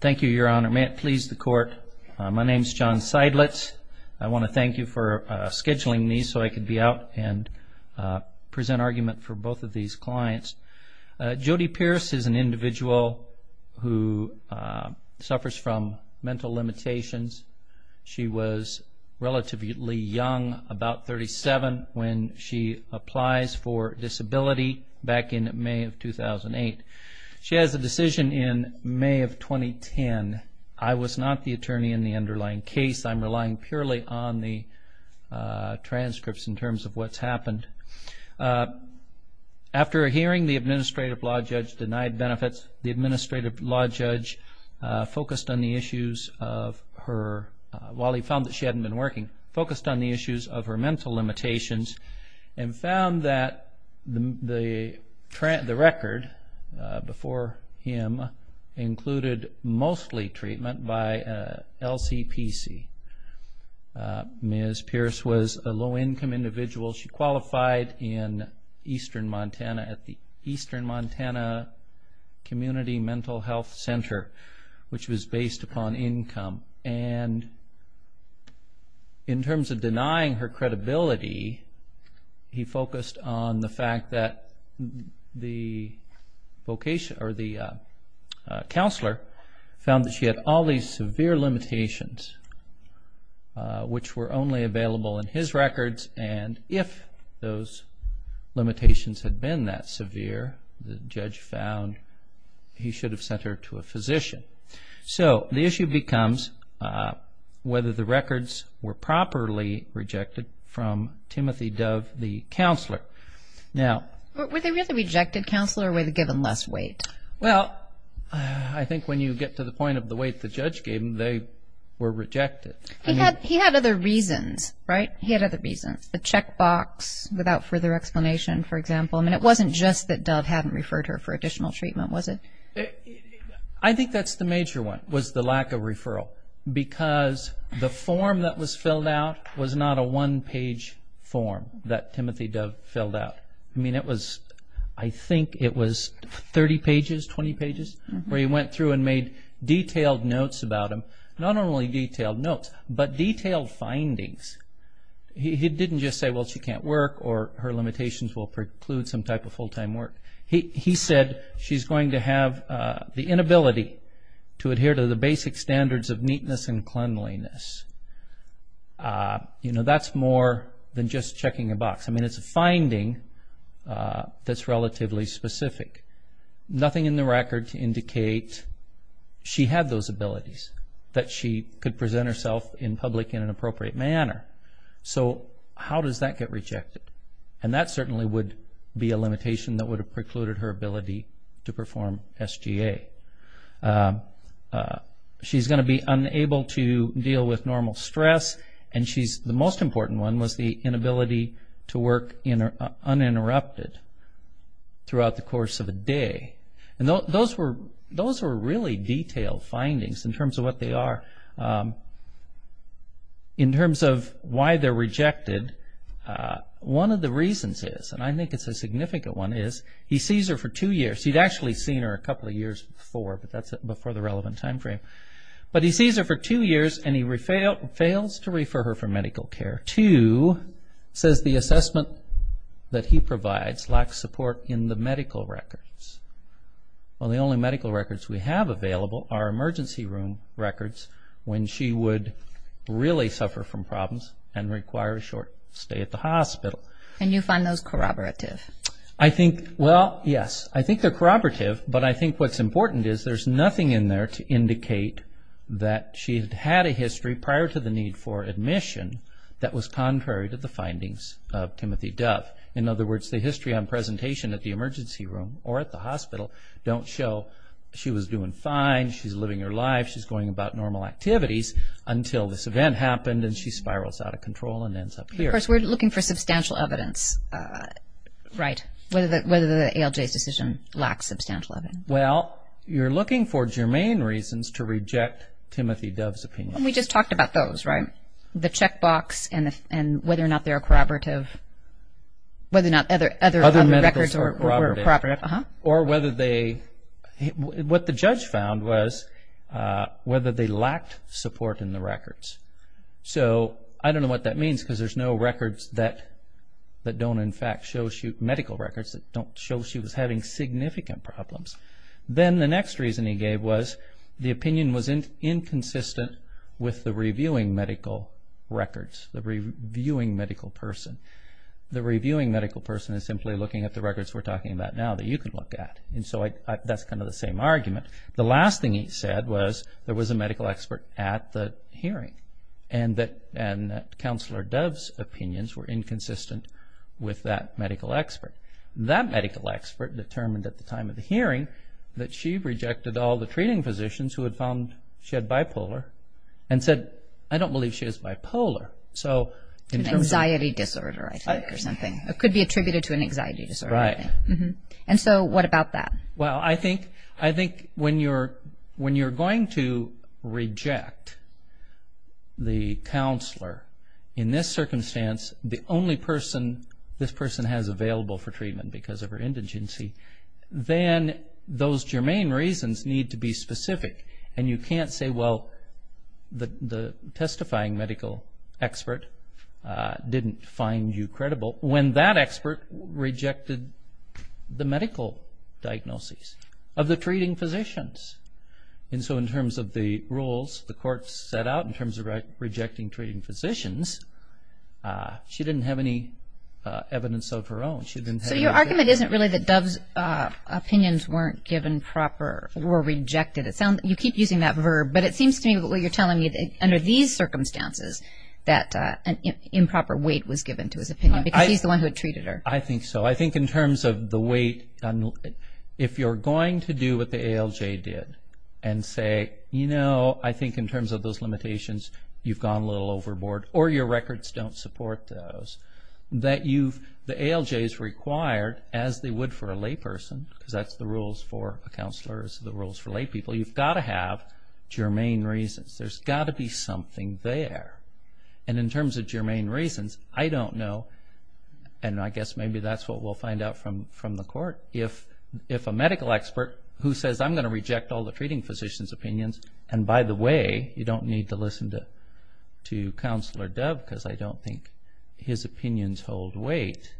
Thank you, Your Honor. May it please the Court, my name is John Seidlitz. I want to thank you for scheduling me so I could be out and present argument for both of these clients. Jodi Pierce is an individual who suffers from mental limitations. She was relatively young, about 37, when she applies for disability back in May of 2008. She has a decision in May of 2010. I was not the attorney in the underlying case. I'm relying purely on the transcripts in terms of what's happened. After a hearing, the Administrative Law Judge denied benefits. The Administrative Law Judge, while he found that she hadn't been working, focused on the issues of her mental limitations and found that the record before him included mostly treatment by LCPC. Ms. Pierce was a low-income individual. She qualified in eastern Montana at the time. He focused on the fact that the counselor found that she had all these severe limitations which were only available in his records and if those Were they really rejected counselor or were they given less weight? Well, I think when you get to the point of the weight the judge gave them, they were rejected. He had other reasons, right? He had other reasons. The checkbox without further explanation, for example. It wasn't just that Dove hadn't referred her for additional treatment, was it? I think that's the major one, was the lack of referral. Because the form that was filled out was not a one-page form that Timothy Dove filled out. I think it was 30 pages, 20 pages, where he went through and made detailed notes about them. Not only detailed notes, but detailed findings. He didn't just say, well, she can't work or her limitations will preclude some type of full-time work. He said she's going to have the inability to adhere to the basic standards of neatness and cleanliness. That's more than just checking a box. It's a finding that's relatively specific. Nothing in the record to indicate she had those So, how does that get rejected? And that certainly would be a limitation that would have precluded her ability to perform SGA. She's going to be unable to deal with normal stress, and the most important one was the inability to work uninterrupted throughout the course of a day. Those were really detailed findings in terms of what they are. In terms of why they're rejected, one of the reasons is, and I think it's a significant one, is he sees her for two years. He'd actually seen her a couple of years before, but that's before the relevant time frame. But he sees her for two years and he Well, the only medical records we have available are emergency room records when she would really suffer from problems and require a short stay at the hospital. Can you find those corroborative? I think, well, yes. I think they're corroborative, but I think what's important is there's nothing in there to indicate that she had a history prior to the need that was contrary to the findings of Timothy Dove. In other words, the history on presentation at the emergency room or at the hospital don't show she was doing fine, she's living her life, she's going about normal activities until this event happened and she spirals out of control and ends up here. Of course, we're looking for substantial evidence, right? Whether the ALJ's decision lacks substantial evidence. Well, you're looking for germane reasons to reject Timothy Dove's opinion. We just talked about those, right? The checkbox and whether or not they're corroborative. Whether or not other records were corroborative. Other medicals were corroborative. Uh-huh. Or whether they, what the judge found was whether they lacked support in the records. So, I don't know what that means because there's no records that don't in fact medical records that don't show she was having significant problems. Then the next reason he gave was the opinion was inconsistent with the reviewing medical records, the reviewing medical person. The reviewing medical person is simply looking at the records we're talking about now that you can look at. And so, that's kind of the same argument. The last thing he said was there was a medical expert at the hearing and that Counselor Dove's opinions were inconsistent with that medical expert. That medical expert determined at the time of the hearing that she rejected all the treating physicians who had found she had bipolar and said, I don't believe she has bipolar. An anxiety disorder, I think, or something. It could be attributed to an anxiety disorder. Right. And so, what about that? Well, I think when you're going to reject the counselor in this circumstance, the only person this person has available for treatment because of her indigency, then those germane reasons need to be specific. And you can't say, well, the testifying medical expert didn't find you credible when that expert rejected the medical diagnosis. Of the treating physicians. And so, in terms of the rules the court set out in terms of rejecting treating physicians, she didn't have any evidence of her own. So, your argument isn't really that Dove's opinions weren't given proper or rejected. You keep using that verb, but it seems to me that what you're telling me is that under these circumstances, that improper weight was given to his opinion because he's the one who treated her. I think so. I think in terms of the weight, if you're going to do what the ALJ did and say, you know, I think in terms of those limitations, you've gone a little overboard or your records don't support those. The ALJ is required, as they would for a lay person, because that's the rules for a counselor, the rules for lay people, you've got to have germane reasons. There's got to be something there. And in terms of germane reasons, I don't know, and I guess maybe that's what we'll find out from the court, if a medical expert who says, I'm going to reject all the treating physician's opinions, and by the way, you don't need to listen to Counselor Dove because I don't think his opinions hold weight,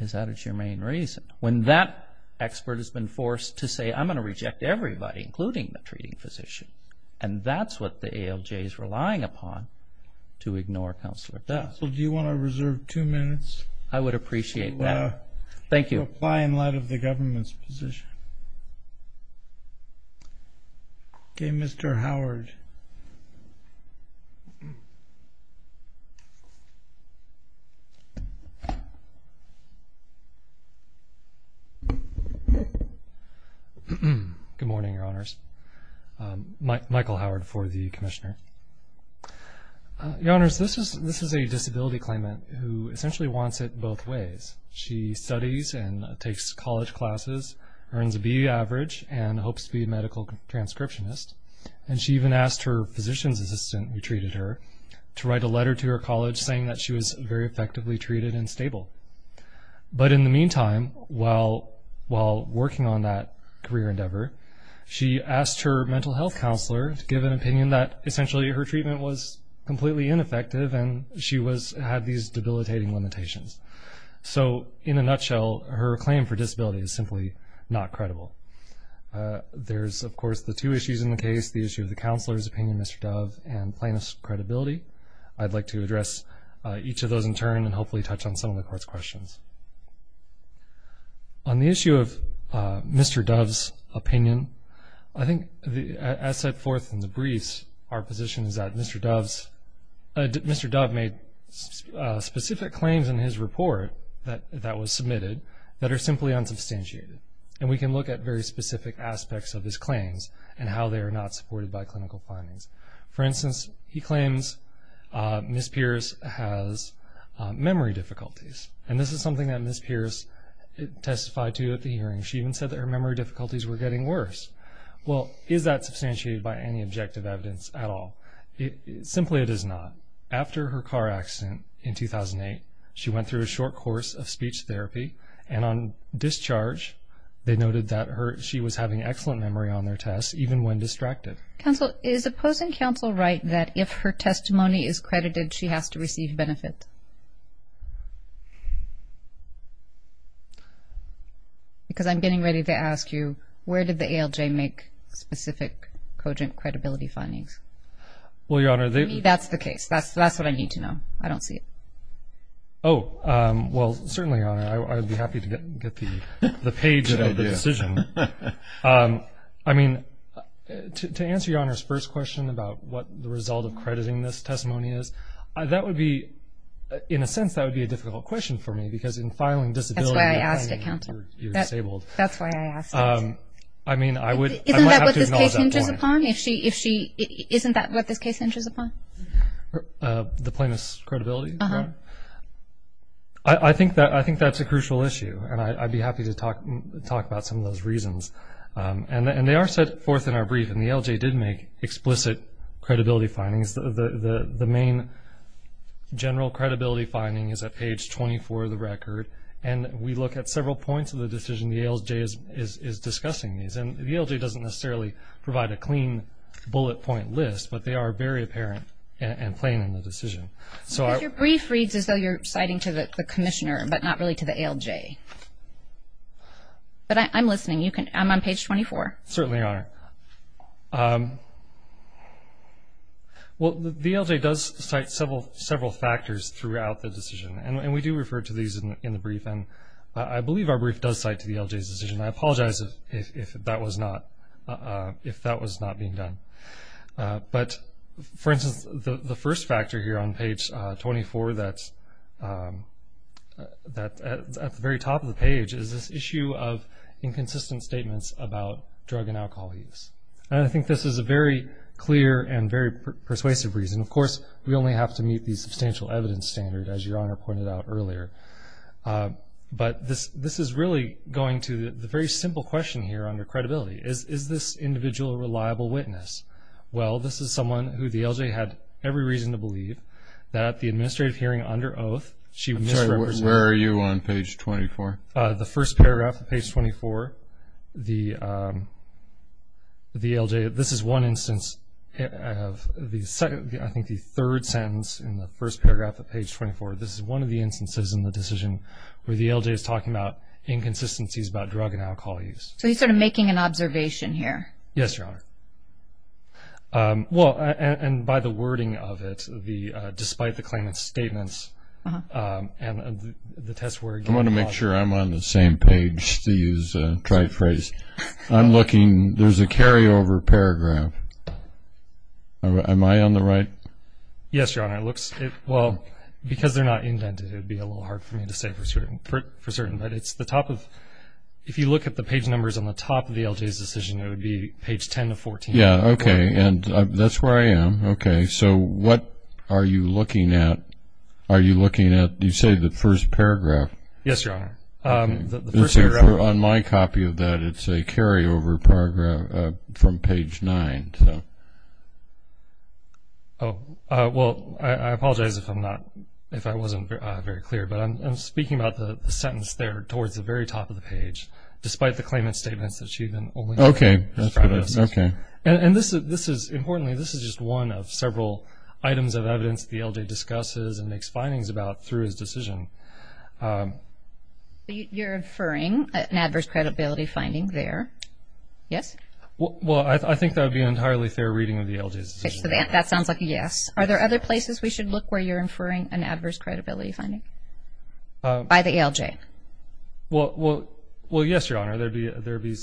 is that a germane reason? When that expert has been forced to say, I'm going to reject everybody, including the treating physician, and that's what the ALJ is relying upon to ignore Counselor Dove. Counsel, do you want to reserve two minutes? I would appreciate that. Thank you. To apply in light of the government's position. Okay, Mr. Howard. Good morning, Your Honors. Michael Howard for the Commissioner. Your Honors, this is a disability claimant who essentially wants it both ways. She studies and takes college classes, earns a B average, and hopes to be a medical transcriptionist, and she even asked her physician's assistant who treated her to write a letter to her college saying that she was very effectively treated and stable. But in the meantime, while working on that career endeavor, she asked her mental health counselor to give an opinion that essentially her treatment was completely ineffective and she had these debilitating limitations. So in a nutshell, her claim for disability is simply not credible. There's, of course, the two issues in the case, the issue of the counselor's opinion, Mr. Dove, and plaintiff's credibility. I'd like to address each of those in turn and hopefully touch on some of the Court's questions. On the issue of Mr. Dove's opinion, I think as set forth in the briefs, our position is that Mr. Dove made specific claims in his report that was submitted that are simply unsubstantiated. And we can look at very specific aspects of his claims and how they are not supported by clinical findings. For instance, he claims Ms. Pierce has memory difficulties, and this is something that Ms. Pierce testified to at the hearing. She even said that her memory difficulties were getting worse. Well, is that substantiated by any objective evidence at all? Simply it is not. After her car accident in 2008, she went through a short course of speech therapy, and on discharge they noted that she was having excellent memory on their tests, even when distracted. Counsel, is opposing counsel right that if her testimony is credited, she has to receive benefit? Because I'm getting ready to ask you, where did the ALJ make specific cogent credibility findings? Well, Your Honor, they've... To me, that's the case. That's what I need to know. I don't see it. Oh, well, certainly, Your Honor, I would be happy to get the page of the decision. I mean, to answer Your Honor's first question about what the result of crediting this testimony is, that would be, in a sense, that would be a difficult question for me, because in filing disability... That's why I asked it, counsel. ...you're disabled. That's why I asked it. I mean, I would... Isn't that what this case hinges upon? Isn't that what this case hinges upon? The plaintiff's credibility? Uh-huh. I think that's a crucial issue, and I'd be happy to talk about some of those reasons. And they are set forth in our brief, and the ALJ did make explicit credibility findings. The main general credibility finding is at page 24 of the record, and we look at several points of the decision. The ALJ is discussing these, and the ALJ doesn't necessarily provide a clean bullet point list, but they are very apparent and plain in the decision. Because your brief reads as though you're citing to the commissioner, but not really to the ALJ. But I'm listening. I'm on page 24. Certainly, Your Honor. Well, the ALJ does cite several factors throughout the decision, and we do refer to these in the brief, and I believe our brief does cite to the ALJ's decision. I apologize if that was not being done. But, for instance, the first factor here on page 24 that's at the very top of the page is this issue of inconsistent statements about drug and alcohol use. And I think this is a very clear and very persuasive reason. Of course, we only have to meet the substantial evidence standard, as Your Honor pointed out earlier. But this is really going to the very simple question here under credibility. Is this individual a reliable witness? Well, this is someone who the ALJ had every reason to believe that the administrative hearing under oath, she misrepresented. I'm sorry, where are you on page 24? The first paragraph of page 24, the ALJ, this is one instance of the second, I think the third sentence in the first paragraph of page 24. This is one of the instances in the decision where the ALJ is talking about inconsistencies about drug and alcohol use. So he's sort of making an observation here. Yes, Your Honor. Well, and by the wording of it, despite the claimant's statements and the test word. I want to make sure I'm on the same page to use the right phrase. I'm looking. There's a carryover paragraph. Am I on the right? Yes, Your Honor. Well, because they're not indented, it would be a little hard for me to say for certain. But it's the top of, if you look at the page numbers on the top of the ALJ's decision, it would be page 10 to 14. Yeah, okay, and that's where I am. Okay, so what are you looking at? Are you looking at, you say, the first paragraph? Yes, Your Honor. On my copy of that, it's a carryover paragraph from page 9. Oh, well, I apologize if I'm not, if I wasn't very clear. But I'm speaking about the sentence there towards the very top of the page, despite the claimant's statements that she had been only looking at. Okay, okay. And this is, importantly, this is just one of several items of evidence the ALJ discusses and makes findings about through his decision. You're inferring an adverse credibility finding there, yes? Well, I think that would be an entirely fair reading of the ALJ's decision. Okay, so that sounds like a yes. Are there other places we should look where you're inferring an adverse credibility finding by the ALJ? Well, yes, Your Honor. There would be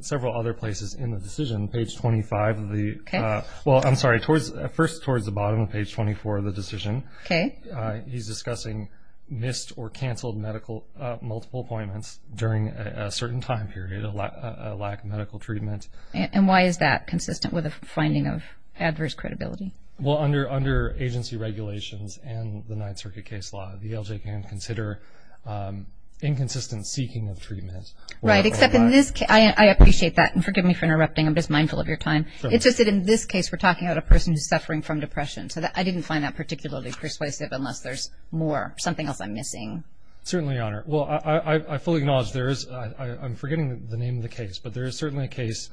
several other places in the decision. Page 25 of the, well, I'm sorry, first towards the bottom of page 24 of the decision. Okay. He's discussing missed or canceled multiple appointments during a certain time period, a lack of medical treatment. And why is that consistent with a finding of adverse credibility? Well, under agency regulations and the Ninth Circuit case law, the ALJ can consider inconsistent seeking of treatment. Right, except in this case, I appreciate that, and forgive me for interrupting. I'm just mindful of your time. It's just that in this case, we're talking about a person who's suffering from depression. So I didn't find that particularly persuasive unless there's more, something else I'm missing. Certainly, Your Honor. Well, I fully acknowledge there is, I'm forgetting the name of the case, but there is certainly a case,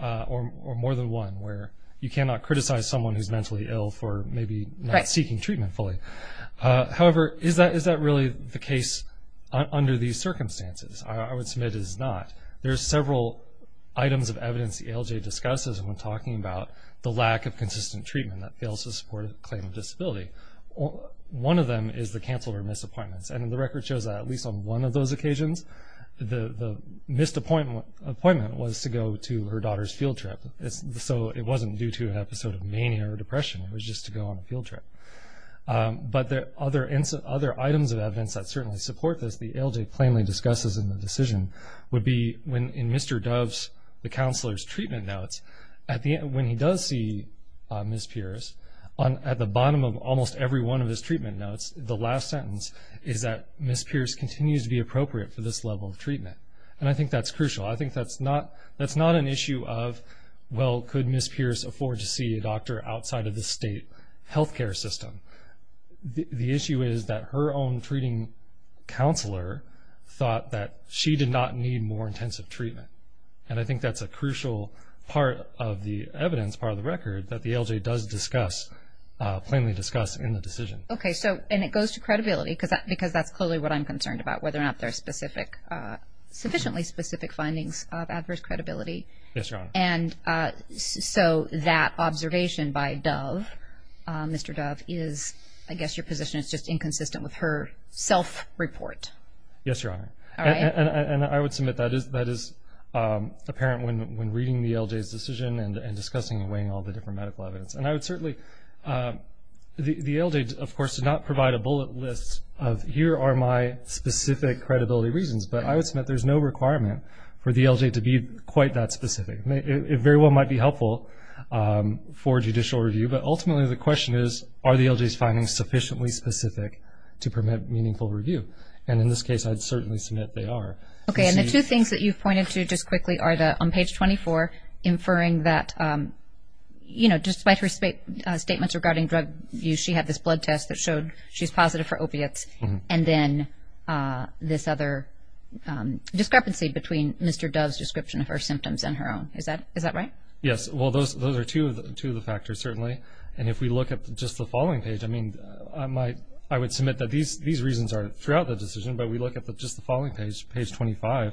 or more than one, where you cannot criticize someone who's mentally ill for maybe not seeking treatment fully. However, is that really the case under these circumstances? I would submit it is not. There are several items of evidence the ALJ discusses when talking about the lack of consistent treatment that fails to support a claim of disability. One of them is the canceled or missed appointments. And the record shows that at least on one of those occasions, the missed appointment was to go to her daughter's field trip. So it wasn't due to an episode of mania or depression. It was just to go on a field trip. But there are other items of evidence that certainly support this. The ALJ plainly discusses in the decision would be in Mr. Dove's, the counselor's treatment notes, when he does see Ms. Pierce, at the bottom of almost every one of his treatment notes, the last sentence is that Ms. Pierce continues to be appropriate for this level of treatment. And I think that's crucial. I think that's not an issue of, well, could Ms. Pierce afford to see a doctor outside of the state health care system? The issue is that her own treating counselor thought that she did not need more intensive treatment. And I think that's a crucial part of the evidence, part of the record, that the ALJ does discuss, plainly discuss in the decision. Okay. And it goes to credibility, because that's clearly what I'm concerned about, whether or not there are sufficiently specific findings of adverse credibility. Yes, Your Honor. And so that observation by Dove, Mr. Dove, is, I guess, your position is just inconsistent with her self-report. Yes, Your Honor. All right. And I would submit that is apparent when reading the ALJ's decision and discussing and weighing all the different medical evidence. And I would certainly, the ALJ, of course, did not provide a bullet list of here are my specific credibility reasons. But I would submit there's no requirement for the ALJ to be quite that specific. It very well might be helpful for judicial review. But ultimately the question is, are the ALJ's findings sufficiently specific to permit meaningful review? And in this case, I'd certainly submit they are. Okay. And the two things that you've pointed to just quickly are on page 24, inferring that, you know, despite her statements regarding drug use, she had this blood test that showed she's positive for opiates, and then this other discrepancy between Mr. Dove's description of her symptoms and her own. Is that right? Yes. Well, those are two of the factors, certainly. And if we look at just the following page, I mean, I would submit that these reasons are throughout the decision, but we look at just the following page, page 25.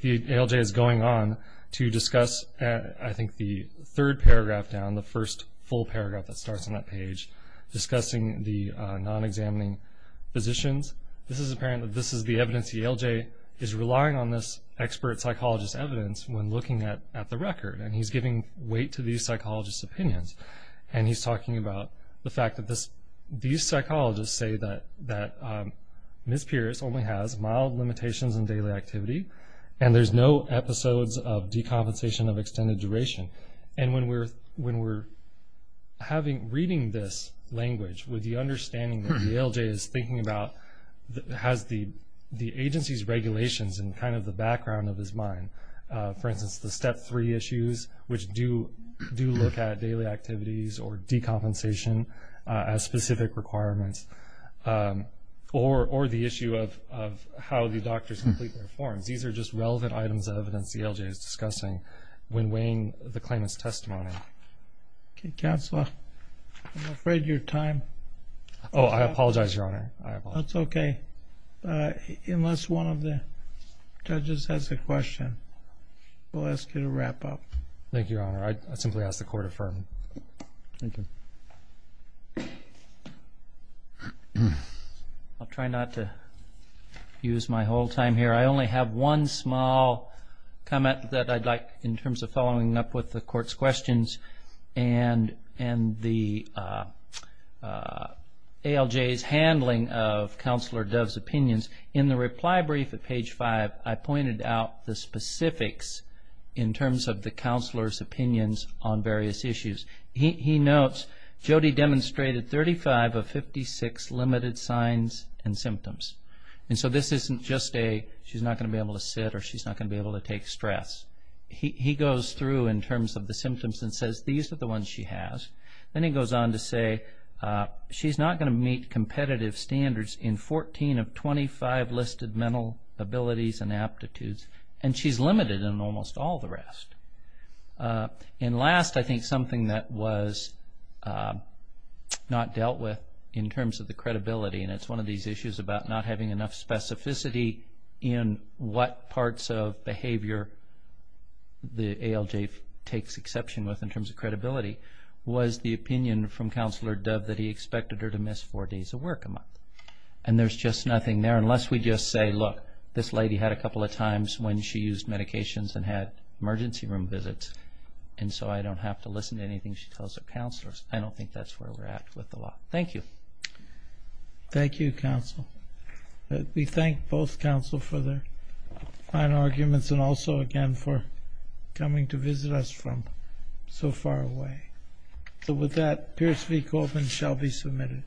The ALJ is going on to discuss, I think, the third paragraph down, the first full paragraph that starts on that page, discussing the non-examining physicians. This is apparent that this is the evidence the ALJ is relying on this expert psychologist's evidence when looking at the record, and he's giving weight to these psychologists' opinions. And he's talking about the fact that these psychologists say that Ms. Pierce only has mild limitations in daily activity, and there's no episodes of decompensation of extended duration. And when we're reading this language with the understanding that the ALJ is thinking about has the agency's regulations in kind of the background of his mind, for instance, the Step 3 issues, which do look at daily activities or decompensation as specific requirements, or the issue of how the doctors complete their forms. These are just relevant items of evidence the ALJ is discussing when weighing the claimant's testimony. Okay, Counselor, I'm afraid your time is up. Oh, I apologize, Your Honor. That's okay. Unless one of the judges has a question, we'll ask you to wrap up. Thank you, Your Honor. I simply ask the Court affirm. Thank you. I'll try not to use my whole time here. I only have one small comment that I'd like, in terms of following up with the Court's questions and the ALJ's handling of Counselor Dove's opinions. In the reply brief at page 5, I pointed out the specifics in terms of the Counselor's opinions on various issues. He notes Jody demonstrated 35 of 56 limited signs and symptoms. So this isn't just a she's not going to be able to sit or she's not going to be able to take stress. He goes through in terms of the symptoms and says these are the ones she has. Then he goes on to say she's not going to meet competitive standards in 14 of 25 listed mental abilities and aptitudes, and she's limited in almost all the rest. And last, I think something that was not dealt with in terms of the credibility, and it's one of these issues about not having enough specificity in what parts of behavior the ALJ takes exception with in terms of credibility, was the opinion from Counselor Dove that he expected her to miss four days of work a month. And there's just nothing there unless we just say, look, this lady had a couple of times when she used medications and had emergency room visits, and so I don't have to listen to anything she tells her counselors. I don't think that's where we're at with the law. Thank you. Thank you, Counsel. We thank both Counsel for their fine arguments and also, again, for coming to visit us from so far away. So with that, Pierce v. Goldman shall be submitted.